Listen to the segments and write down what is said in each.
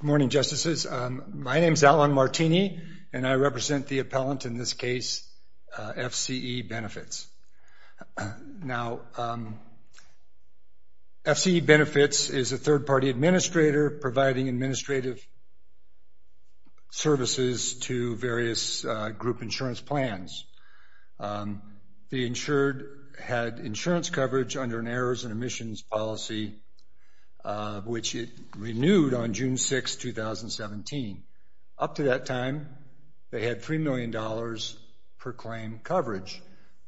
Good morning, Justices. My name is Alan Martini, and I represent the appellant in this case, FCE Benefits. Now, FCE Benefits is a third-party administrator providing administrative services to various group insurance plans. The insured had insurance coverage under an errors and omissions policy, which it renewed on June 6, 2017. Up to that time, they had $3 million per claim coverage.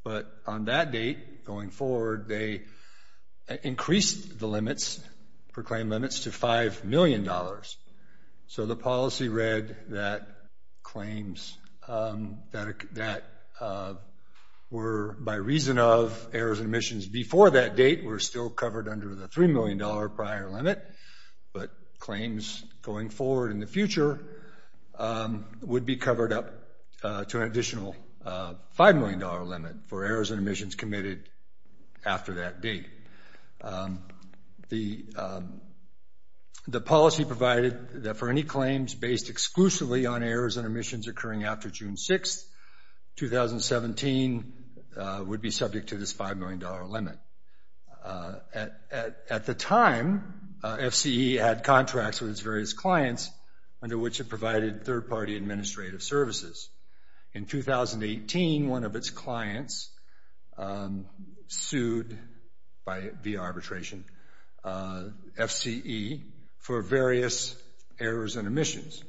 But on that date, going forward, they increased the limits, per claim limits, to $5 million. So the policy read that claims that were, by reason of errors and omissions before that date, were still covered under the $3 million prior limit. But claims going forward in the future would be covered up to an additional $5 million limit for errors and omissions committed after that date. The policy provided that for any claims based exclusively on errors and omissions occurring after June 6, 2017, would be subject to this $5 million limit. At the time, FCE had contracts with its various clients under which it provided third-party administrative services. In 2018, one of its clients sued via arbitration, FCE, for various errors and omissions.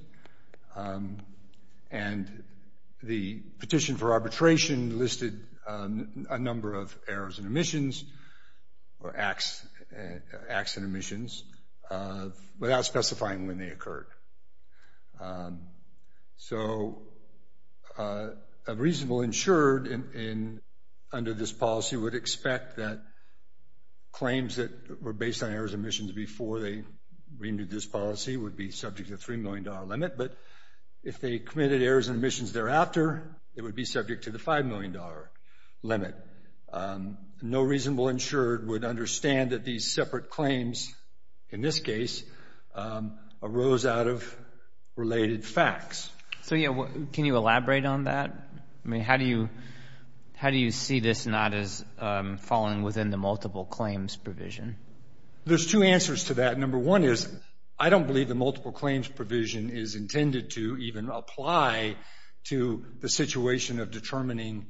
And the petition for arbitration listed a number of errors and omissions, or acts and omissions, without specifying when they occurred. So a reasonable insured under this policy would expect that claims that were based on errors and omissions before they renewed this policy would be subject to a $3 million limit. But if they committed errors and omissions thereafter, it would be subject to the $5 million limit. No reasonable insured would understand that these separate claims, in this case, arose out of related facts. So can you elaborate on that? I mean, how do you see this not as falling within the multiple claims provision? There's two answers to that. Number one is, I don't believe the multiple claims provision is intended to even apply to the situation of determining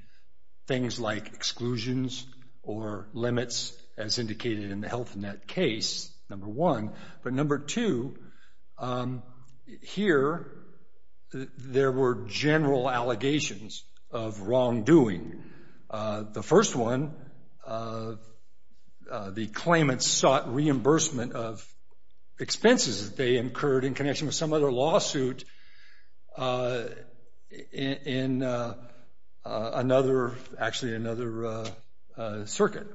things like exclusions or limits, as indicated in the Health Net case, number one. But number two, here, there were general allegations of wrongdoing. The first one, the claimants sought reimbursement of expenses that they incurred in connection with some other lawsuit in another, actually another circuit.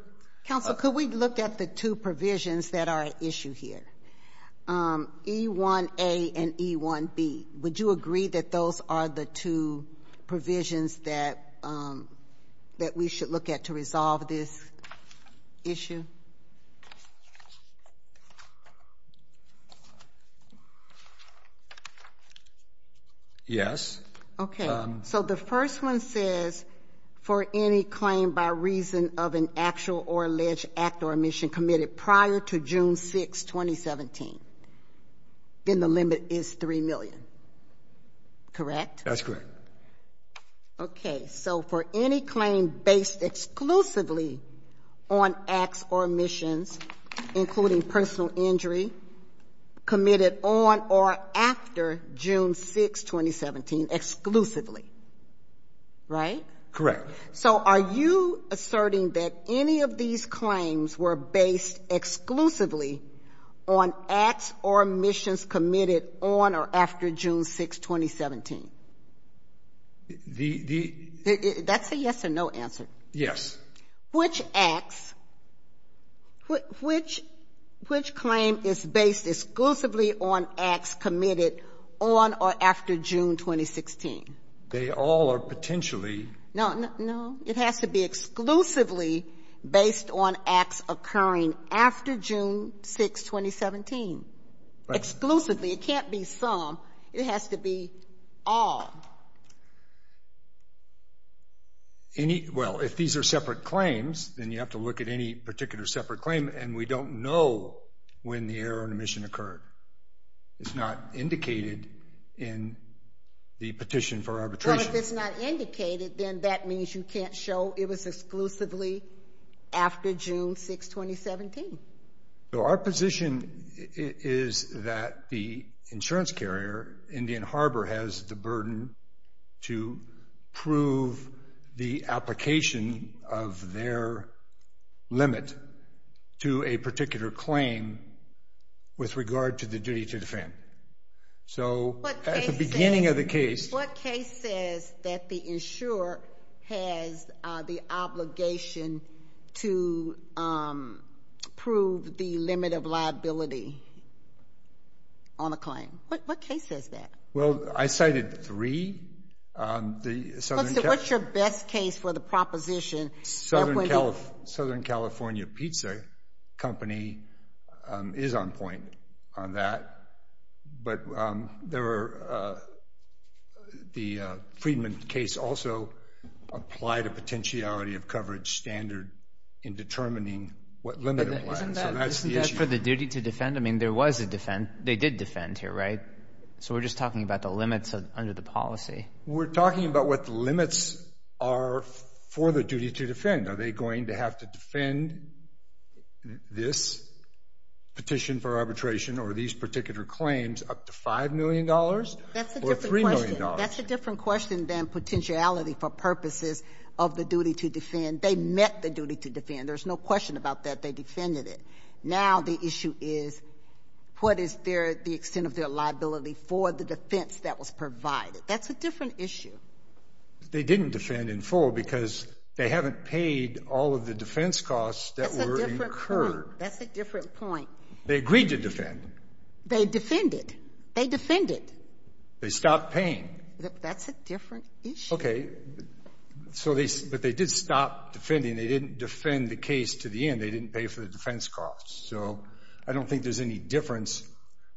Counsel, could we look at the two provisions that are at issue here, E1A and E1B? Would you agree that those are the two provisions that we should look at to resolve this issue? Yes. Okay. So the first one says, for any claim by reason of an actual or alleged act or omission committed prior to June 6, 2017, then the limit is $3 million, correct? That's correct. Okay. So for any claim based exclusively on acts or omissions, including personal injury, committed on or after June 6, 2017, exclusively, right? Correct. So are you asserting that any of these claims were based exclusively on acts or omissions committed on or after June 6, 2017? The — That's a yes or no answer. Yes. Which acts, which claim is based exclusively on acts committed on or after June 2016? They all are potentially — No, no. It has to be exclusively based on acts occurring after June 6, 2017. Right. Exclusively. It can't be some. It has to be all. Any — well, if these are separate claims, then you have to look at any particular separate claim, and we don't know when the error or omission occurred. It's not indicated in the Petition for Arbitration. Well, if it's not indicated, then that means you can't show it was exclusively after June 6, 2017. So our position is that the insurance carrier, Indian Harbor, has the burden to prove the application of their limit to a particular claim with regard to the duty to defend. So at the beginning of the case — It says that the insurer has the obligation to prove the limit of liability on a claim. What case says that? Well, I cited three. The Southern — What's your best case for the proposition? Southern California Pizza Company is on point on that. But there were — the Friedman case also applied a potentiality of coverage standard in determining what limit it was. Isn't that for the duty to defend? I mean, there was a defend. They did defend here, right? So we're just talking about the limits under the policy. We're talking about what the limits are for the duty to defend. Are they going to have to defend this petition for arbitration or these particular claims up to $5 million or $3 million? That's a different question than potentiality for purposes of the duty to defend. They met the duty to defend. There's no question about that. They defended it. Now the issue is what is the extent of their liability for the defense that was provided. That's a different issue. They didn't defend in full because they haven't paid all of the defense costs that were incurred. That's a different point. They agreed to defend. They defended. They defended. They stopped paying. That's a different issue. Okay. But they did stop defending. They didn't defend the case to the end. They didn't pay for the defense costs. So I don't think there's any difference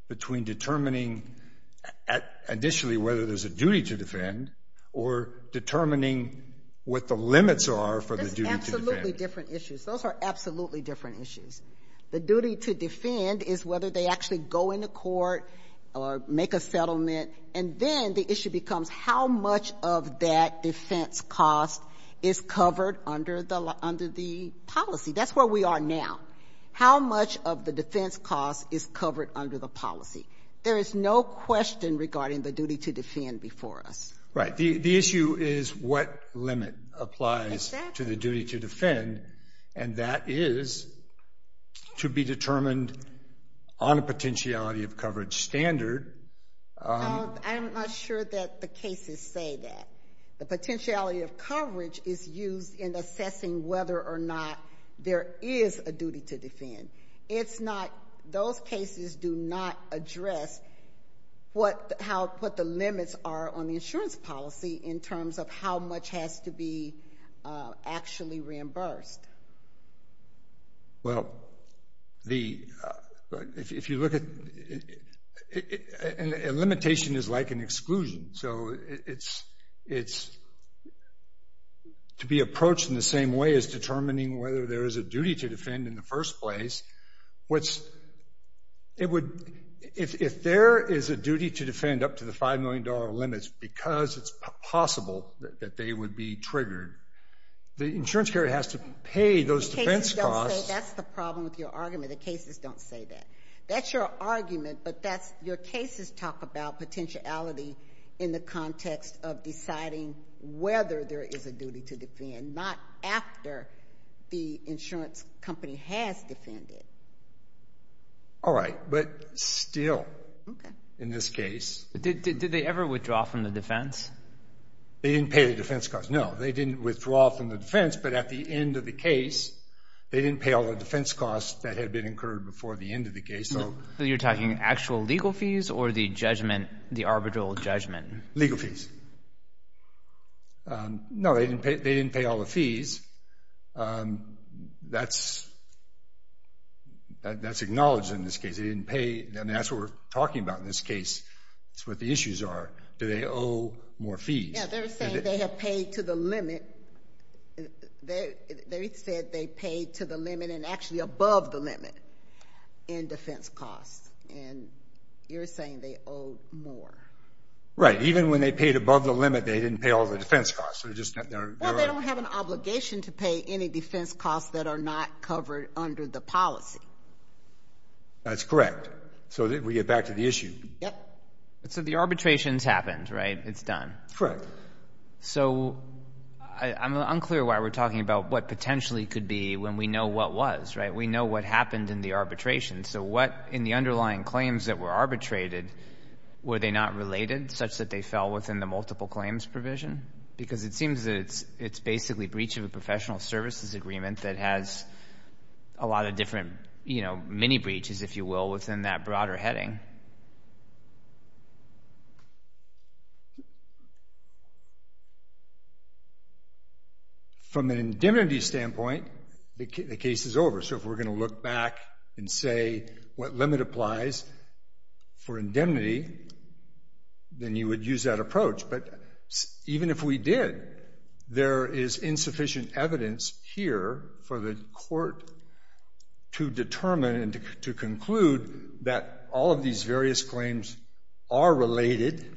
between determining initially whether there's a duty to defend or determining what the limits are for the duty to defend. That's absolutely different issues. Those are absolutely different issues. The duty to defend is whether they actually go into court or make a settlement, and then the issue becomes how much of that defense cost is covered under the policy. That's where we are now. How much of the defense cost is covered under the policy? There is no question regarding the duty to defend before us. Right. The issue is what limit applies to the duty to defend, and that is to be determined on a potentiality of coverage standard. I'm not sure that the cases say that. The potentiality of coverage is used in assessing whether or not there is a duty to defend. Those cases do not address what the limits are on the insurance policy in terms of how much has to be actually reimbursed. Well, if you look at it, a limitation is like an exclusion. So it's to be approached in the same way as determining whether there is a duty to defend in the first place. If there is a duty to defend up to the $5 million limits because it's possible that they would be triggered, the insurance carrier has to pay those defense costs. That's the problem with your argument. The cases don't say that. That's your argument, but your cases talk about potentiality in the context of deciding whether there is a duty to defend, not after the insurance company has defended. All right, but still in this case. Did they ever withdraw from the defense? They didn't pay the defense costs. No, they didn't withdraw from the defense, but at the end of the case they didn't pay all the defense costs that had been incurred before the end of the case. So you're talking actual legal fees or the judgment, the arbitral judgment? Legal fees. No, they didn't pay all the fees. That's acknowledged in this case. They didn't pay. I mean, that's what we're talking about in this case. That's what the issues are. Do they owe more fees? Yeah, they're saying they have paid to the limit. They said they paid to the limit and actually above the limit in defense costs, and you're saying they owe more. Right, even when they paid above the limit, they didn't pay all the defense costs. Well, they don't have an obligation to pay any defense costs that are not covered under the policy. That's correct. So we get back to the issue. Yep. So the arbitration's happened, right? It's done. Correct. So I'm unclear why we're talking about what potentially could be when we know what was, right? We know what happened in the arbitration. So what in the underlying claims that were arbitrated, were they not related such that they fell within the multiple claims provision? Because it seems that it's basically breach of a professional services agreement that has a lot of different mini-breaches, if you will, within that broader heading. From an indemnity standpoint, the case is over. So if we're going to look back and say what limit applies for indemnity, then you would use that approach. But even if we did, there is insufficient evidence here for the court to determine and to conclude that all of these various claims are related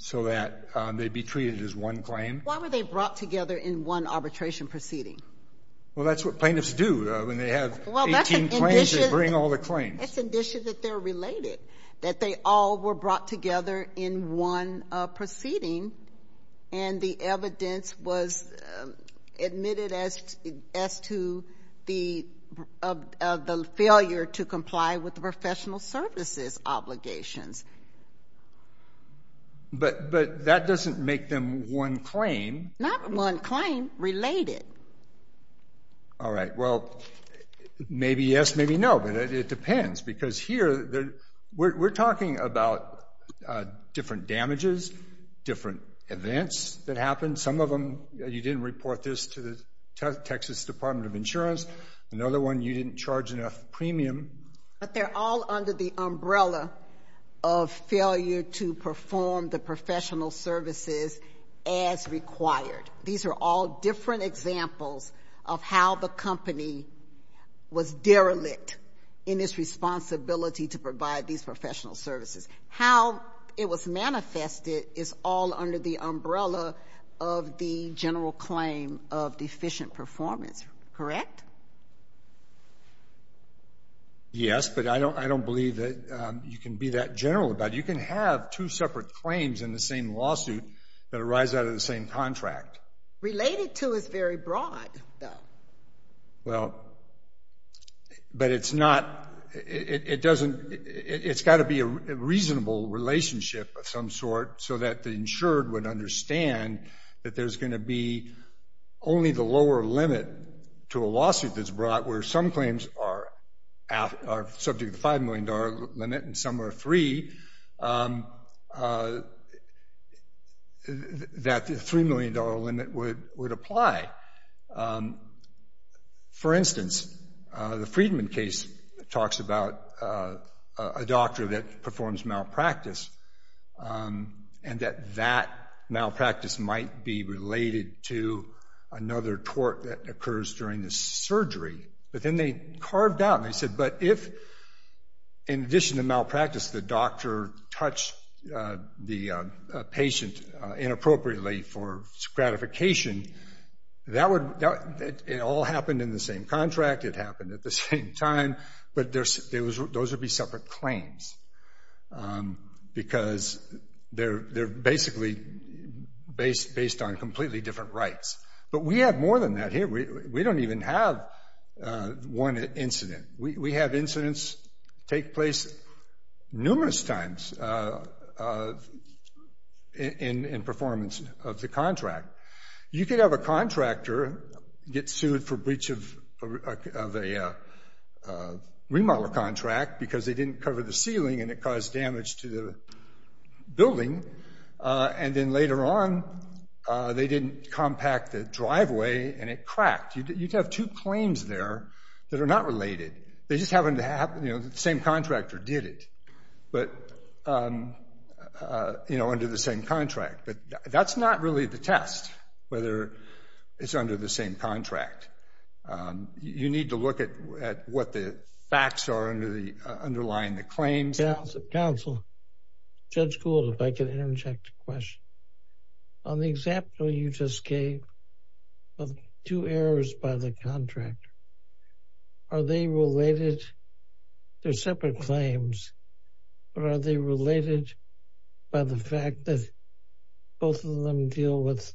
so that they'd be treated as one claim. Why were they brought together in one arbitration proceeding? Well, that's what plaintiffs do. When they have 18 claims, they bring all the claims. It's an issue that they're related, that they all were brought together in one proceeding and the evidence was admitted as to the failure to comply with the professional services obligations. But that doesn't make them one claim. Not one claim, related. All right. Well, maybe yes, maybe no, but it depends. Because here, we're talking about different damages, different events that happened. Some of them, you didn't report this to the Texas Department of Insurance. Another one, you didn't charge enough premium. But they're all under the umbrella of failure to perform the professional services as required. These are all different examples of how the company was derelict in its responsibility to provide these professional services. How it was manifested is all under the umbrella of the general claim of deficient performance. Correct? Yes, but I don't believe that you can be that general about it. You can have two separate claims in the same lawsuit that arise out of the same contract. Related to is very broad, though. Well, but it's not, it doesn't, it's got to be a reasonable relationship of some sort so that the insured would understand that there's going to be only the lower limit to a lawsuit that's brought where some claims are subject to the $5 million limit and some are free, that the $3 million limit would apply. For instance, the Friedman case talks about a doctor that performs malpractice and that that malpractice might be related to another tort that occurs during the surgery. But then they carved out and they said, but if, in addition to malpractice, the doctor touched the patient inappropriately for gratification, that would, it all happened in the same contract, it happened at the same time, but those would be separate claims because they're basically based on completely different rights. But we have more than that here. We don't even have one incident. We have incidents take place numerous times in performance of the contract. You could have a contractor get sued for breach of a remodel contract because they didn't cover the ceiling and it caused damage to the building and then later on they didn't compact the driveway and it cracked. You'd have two claims there that are not related. They just happen to have, you know, the same contractor did it, but, you know, under the same contract. But that's not really the test, whether it's under the same contract. You need to look at what the facts are underlying the claims. Counsel, Judge Gould, if I can interject a question. On the example you just gave of two errors by the contractor, are they related? They're separate claims, but are they related by the fact that both of them deal with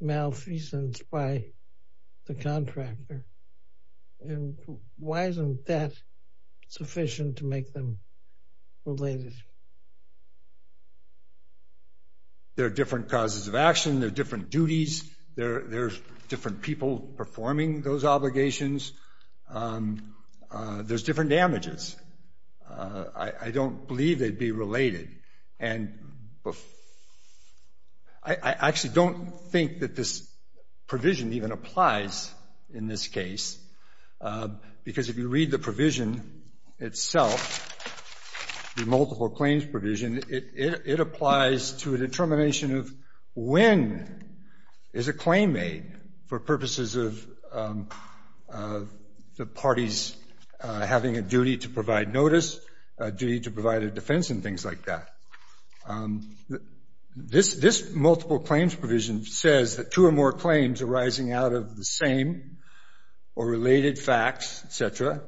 malfeasance by the contractor? And why isn't that sufficient to make them related? There are different causes of action. There are different duties. There are different people performing those obligations. There's different damages. I don't believe they'd be related. I actually don't think that this provision even applies in this case because if you read the provision itself, the multiple claims provision, it applies to a determination of when is a claim made for purposes of the parties having a duty to provide notice, a duty to provide a defense, and things like that. This multiple claims provision says that two or more claims arising out of the same or related facts, et cetera,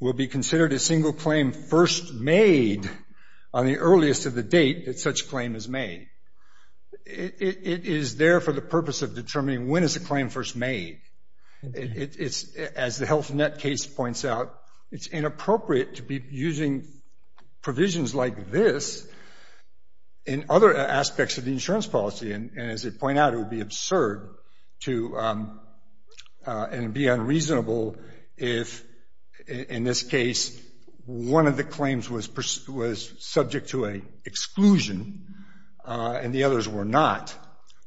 will be considered a single claim first made on the earliest of the date that such claim is made. It is there for the purpose of determining when is a claim first made. As the Health Net case points out, it's inappropriate to be using provisions like this in other aspects of the insurance policy, and as they point out, it would be absurd and be unreasonable if, in this case, one of the claims was subject to an exclusion and the others were not.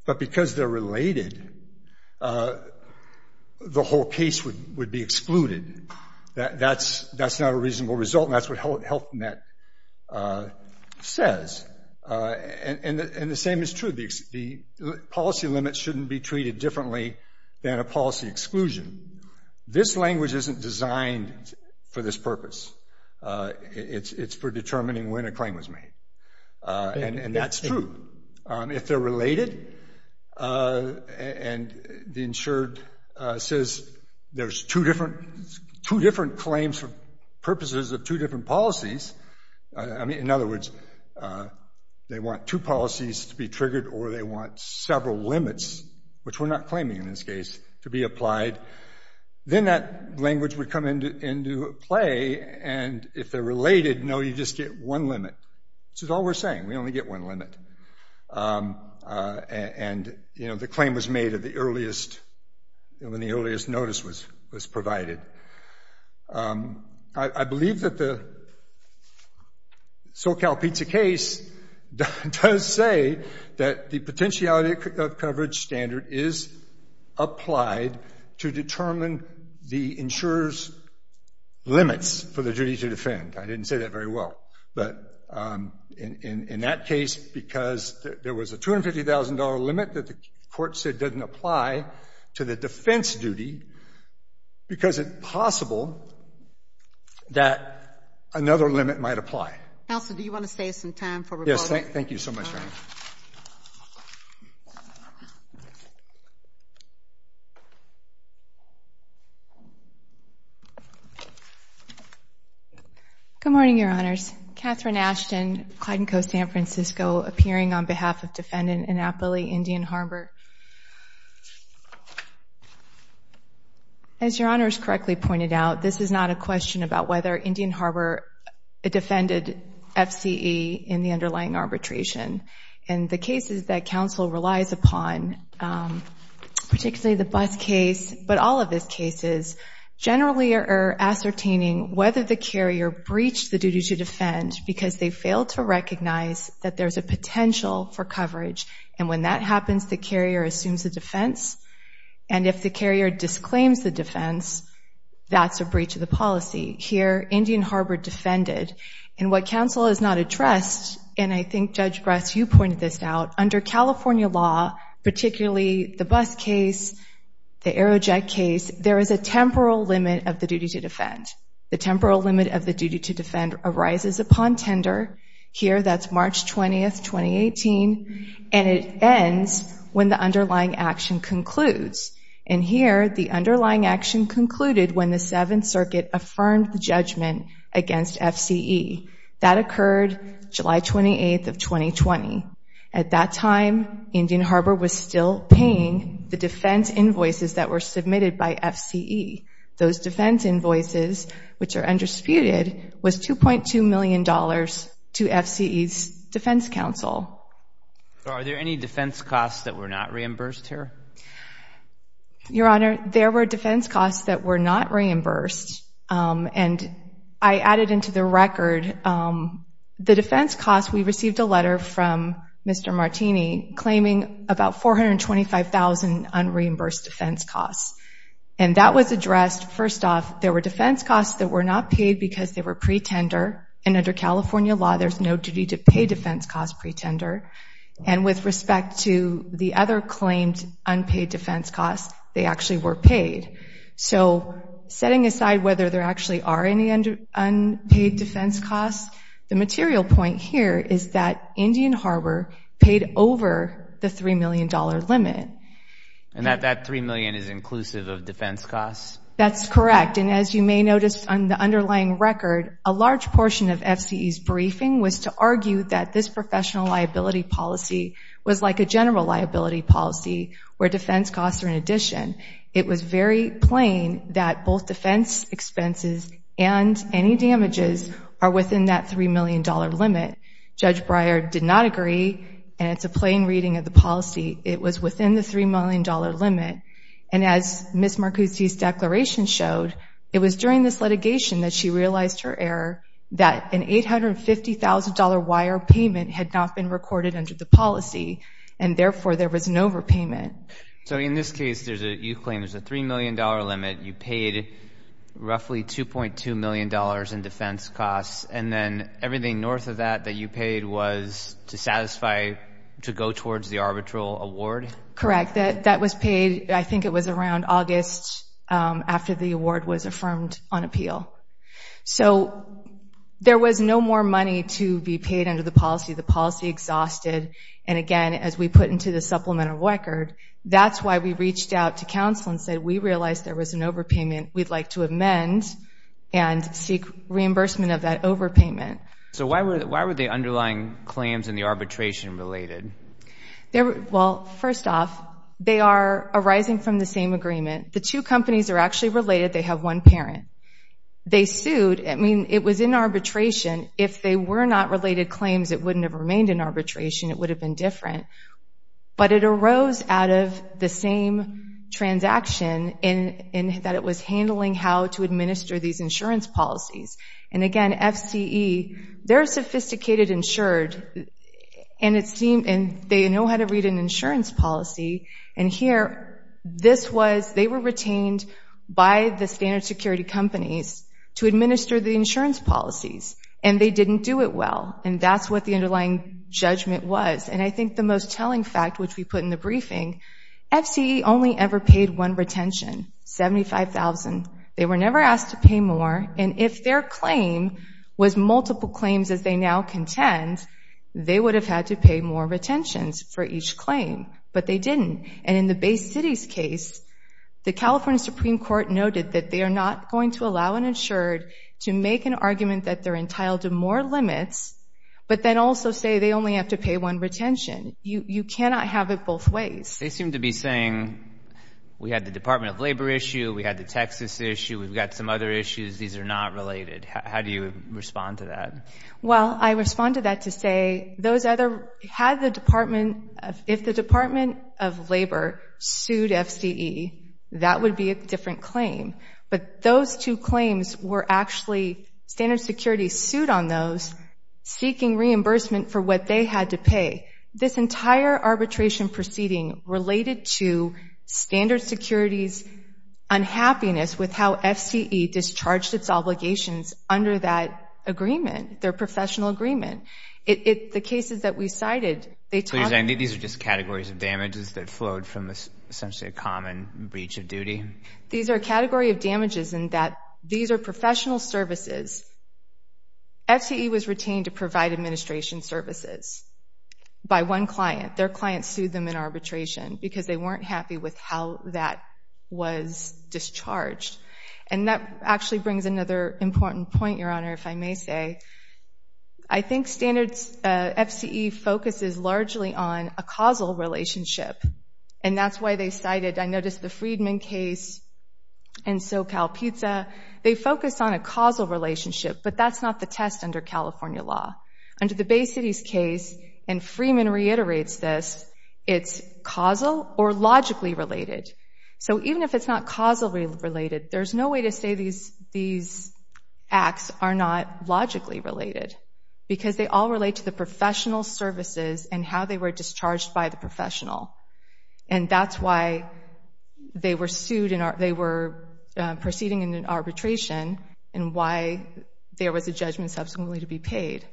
But because they're related, the whole case would be excluded. That's not a reasonable result, and that's what Health Net says. And the same is true. The policy limits shouldn't be treated differently than a policy exclusion. This language isn't designed for this purpose. It's for determining when a claim was made, and that's true. If they're related and the insured says there's two different claims for purposes of two different policies, I mean, in other words, they want two policies to be triggered or they want several limits, which we're not claiming in this case, to be applied, then that language would come into play. And if they're related, no, you just get one limit. This is all we're saying. We only get one limit. And, you know, the claim was made at the earliest, when the earliest notice was provided. I believe that the SoCalPizza case does say that the potentiality of coverage standard is applied to determine the insurer's limits for the duty to defend. I didn't say that very well. But in that case, because there was a $250,000 limit that the court said doesn't apply to the defense duty because it's possible that another limit might apply. Counsel, do you want to save some time for reporting? Yes, thank you so much, Your Honor. All right. Good morning, Your Honors. Katherine Ashton, Clyde & Co., San Francisco, appearing on behalf of Defendant Annapolis Indian Harbor. As Your Honor has correctly pointed out, this is not a question about whether Indian Harbor defended FCE in the underlying arbitration. And the cases that counsel relies upon, particularly the bus case, but all of his cases, generally are ascertaining whether the carrier breached the duty to defend because they failed to recognize that there's a potential for coverage. And when that happens, the carrier assumes the defense. And if the carrier disclaims the defense, that's a breach of the policy. Here, Indian Harbor defended. And what counsel has not addressed, and I think, Judge Bress, you pointed this out, under California law, particularly the bus case, the Aerojet case, there is a temporal limit of the duty to defend. The temporal limit of the duty to defend arises upon tender. Here, that's March 20th, 2018. And it ends when the underlying action concludes. And here, the underlying action concluded when the Seventh Circuit affirmed the judgment against FCE. That occurred July 28th of 2020. At that time, Indian Harbor was still paying the defense invoices that were submitted by FCE. Those defense invoices, which are undisputed, was $2.2 million to FCE's defense counsel. Are there any defense costs that were not reimbursed here? Your Honor, there were defense costs that were not reimbursed. And I added into the record the defense costs. We received a letter from Mr. Martini claiming about $425,000 unreimbursed defense costs. And that was addressed, first off, there were defense costs that were not paid because they were pre-tender. And under California law, there's no duty to pay defense costs pre-tender. And with respect to the other claimed unpaid defense costs, they actually were paid. So setting aside whether there actually are any unpaid defense costs, the material point here is that Indian Harbor paid over the $3 million limit. And that $3 million is inclusive of defense costs? That's correct. And as you may notice on the underlying record, a large portion of FCE's briefing was to argue that this professional liability policy was like a general liability policy where defense costs are in addition. It was very plain that both defense expenses and any damages are within that $3 million limit. Judge Breyer did not agree, and it's a plain reading of the policy. It was within the $3 million limit. And as Ms. Marcucci's declaration showed, it was during this litigation that she realized her error, that an $850,000 wire payment had not been recorded under the policy, and therefore there was an overpayment. So in this case, you claim there's a $3 million limit. You paid roughly $2.2 million in defense costs, and then everything north of that that you paid was to satisfy to go towards the arbitral award? Correct. That was paid, I think it was around August after the award was affirmed on appeal. So there was no more money to be paid under the policy. The policy exhausted. And again, as we put into the supplemental record, that's why we reached out to counsel and said we realized there was an overpayment we'd like to amend and seek reimbursement of that overpayment. So why were the underlying claims in the arbitration related? Well, first off, they are arising from the same agreement. The two companies are actually related. They have one parent. They sued. I mean, it was in arbitration. If they were not related claims, it wouldn't have remained in arbitration. It would have been different. But it arose out of the same transaction in that it was handling how to administer these insurance policies. And again, FCE, they're sophisticated, insured, and they know how to read an insurance policy. And here, they were retained by the standard security companies to administer the insurance policies. And they didn't do it well. And that's what the underlying judgment was. And I think the most telling fact, which we put in the briefing, FCE only ever paid one retention, $75,000. They were never asked to pay more. And if their claim was multiple claims as they now contend, they would have had to pay more retentions for each claim. But they didn't. And in the Bay City's case, the California Supreme Court noted that they are not going to allow an insured to make an argument that they're entitled to more limits, but then also say they only have to pay one retention. You cannot have it both ways. They seem to be saying, we had the Department of Labor issue, we had the Texas issue, we've got some other issues, these are not related. How do you respond to that? Well, I respond to that to say, if the Department of Labor sued FCE, that would be a different claim. But those two claims were actually, Standard Security sued on those seeking reimbursement for what they had to pay. This entire arbitration proceeding related to Standard Security's unhappiness with how FCE discharged its obligations under that agreement, their professional agreement. The cases that we cited, they talked about... These are just categories of damages that flowed from essentially a common breach of duty? These are a category of damages in that these are professional services. FCE was retained to provide administration services by one client. Their client sued them in arbitration because they weren't happy with how that was discharged. And that actually brings another important point, Your Honor, if I may say. I think FCE focuses largely on a causal relationship, and that's why they cited... I noticed the Freedman case and SoCalPizza, they focused on a causal relationship, but that's not the test under California law. Under the Bay City's case, and Freeman reiterates this, it's causal or logically related. So even if it's not causally related, there's no way to say these acts are not logically related because they all relate to the professional services and how they were discharged by the professional. And that's why they were sued and they were proceeding in arbitration and why there was a judgment subsequently to be paid.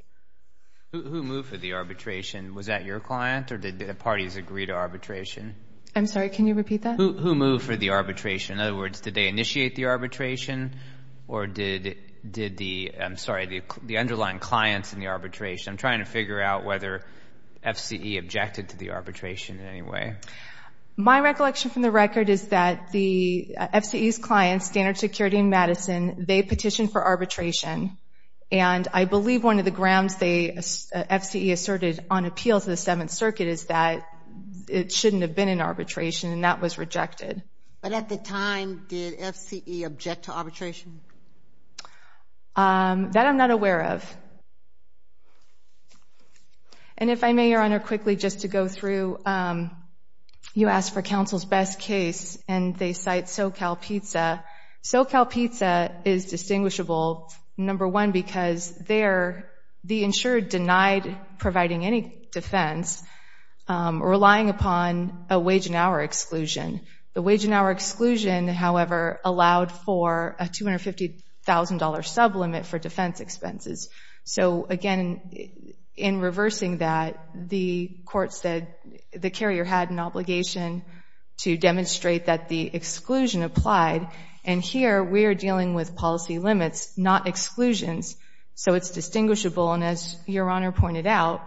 Who moved for the arbitration? Was that your client or did the parties agree to arbitration? I'm sorry, can you repeat that? Who moved for the arbitration? In other words, did they initiate the arbitration or did the... I'm sorry, the underlying clients in the arbitration? I'm trying to figure out whether FCE objected to the arbitration in any way. My recollection from the record is that the FCE's clients, Standard Security and Madison, they petitioned for arbitration. And I believe one of the grounds FCE asserted on appeal to the Seventh Circuit is that it shouldn't have been an arbitration and that was rejected. But at the time, did FCE object to arbitration? That I'm not aware of. And if I may, Your Honor, quickly just to go through, you asked for counsel's best case and they cite SoCalPizza. SoCalPizza is distinguishable, number one, because they're the insured denied providing any defense relying upon a wage and hour exclusion. The wage and hour exclusion, however, allowed for a $250,000 sublimit for defense expenses. So again, in reversing that, the court said the carrier had an obligation to demonstrate that the exclusion applied. And here we are dealing with policy limits, not exclusions. So it's distinguishable. And as Your Honor pointed out,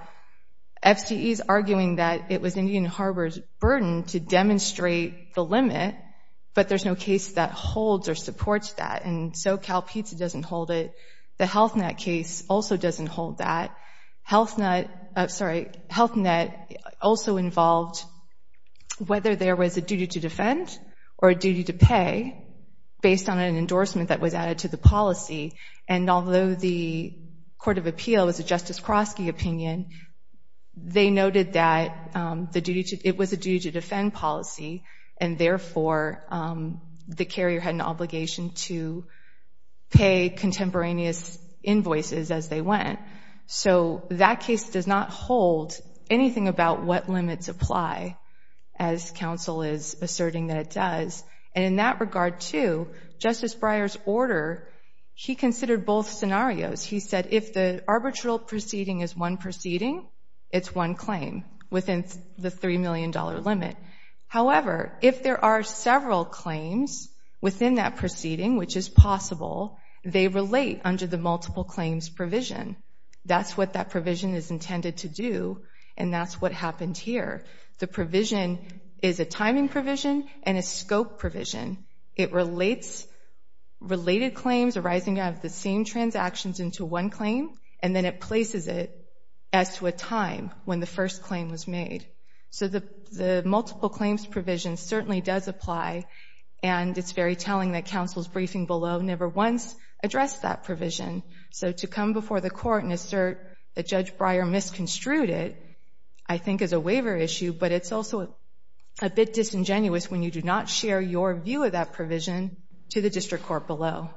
FCE's arguing that it was Indian Harbor's duty to demonstrate the limit, but there's no case that holds or supports that. And SoCalPizza doesn't hold it. The HealthNet case also doesn't hold that. HealthNet also involved whether there was a duty to defend or a duty to pay based on an endorsement that was added to the policy. And although the court of appeal was a Justice Krosky opinion, they noted that it was a duty to defend policy, and therefore the carrier had an obligation to pay contemporaneous invoices as they went. So that case does not hold anything about what limits apply, as counsel is asserting that it does. And in that regard, too, Justice Breyer's order, he considered both scenarios. He said if the arbitral proceeding is one proceeding, it's one claim within the $3 million limit. However, if there are several claims within that proceeding, which is possible, they relate under the multiple claims provision. That's what that provision is intended to do, and that's what happened here. The provision is a timing provision and a scope provision. It relates related claims arising out of the same transactions into one claim, and then it places it as to a time when the first claim was made. So the multiple claims provision certainly does apply, and it's very telling that counsel's briefing below never once addressed that provision. So to come before the court and assert that Judge Breyer misconstrued it I think is a waiver issue, but it's also a bit disingenuous when you do not share your view of that provision to the district court below.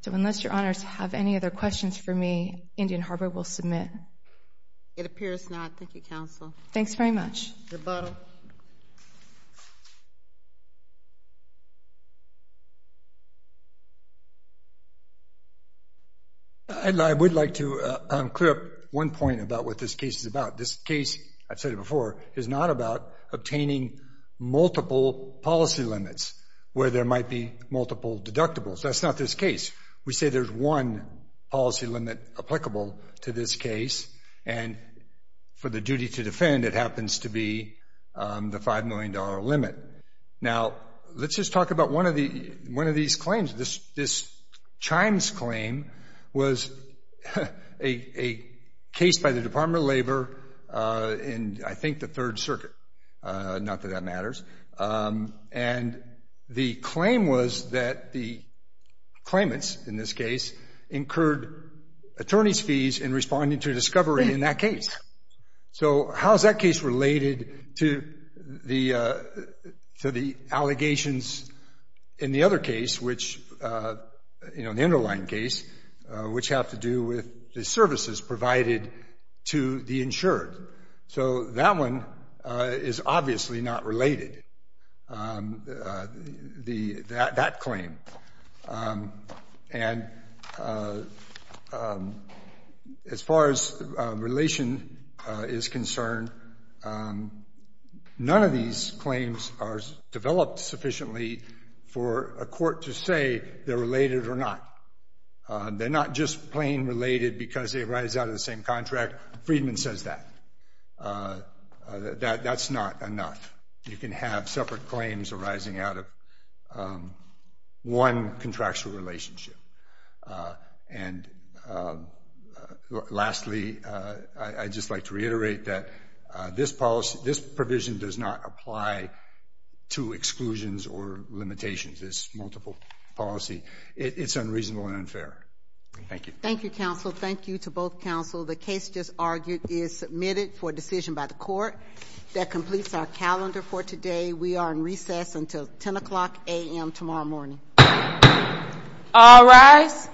So unless your honors have any other questions for me, Indian Harbor will submit. It appears not. Thank you, counsel. Thanks very much. Rebuttal. I would like to clear up one point about what this case is about. This case, I've said it before, is not about obtaining multiple policy limits where there might be multiple deductibles. That's not this case. We say there's one policy limit applicable to this case, and for the duty to defend it happens to be the $5 million limit. Now, let's just talk about one of these claims. This Chimes claim was a case by the Department of Labor in I think the Third Circuit, not that that matters, and the claim was that the claimants in this case incurred attorney's fees in responding to a discovery in that case. So how is that case related to the allegations in the other case, the underlying case, which have to do with the services provided to the insured? So that one is obviously not related, that claim. And as far as relation is concerned, none of these claims are developed sufficiently for a court to say they're related or not. They're not just plain related because they arise out of the same contract. Friedman says that. That's not enough. You can have separate claims arising out of one contractual relationship. And lastly, I'd just like to reiterate that this provision does not apply to exclusions or limitations. It's multiple policy. It's unreasonable and unfair. Thank you. Thank you, counsel. Thank you to both counsel. The case just argued is submitted for decision by the court. That completes our calendar for today. We are in recess until 10 o'clock a.m. tomorrow morning. All rise.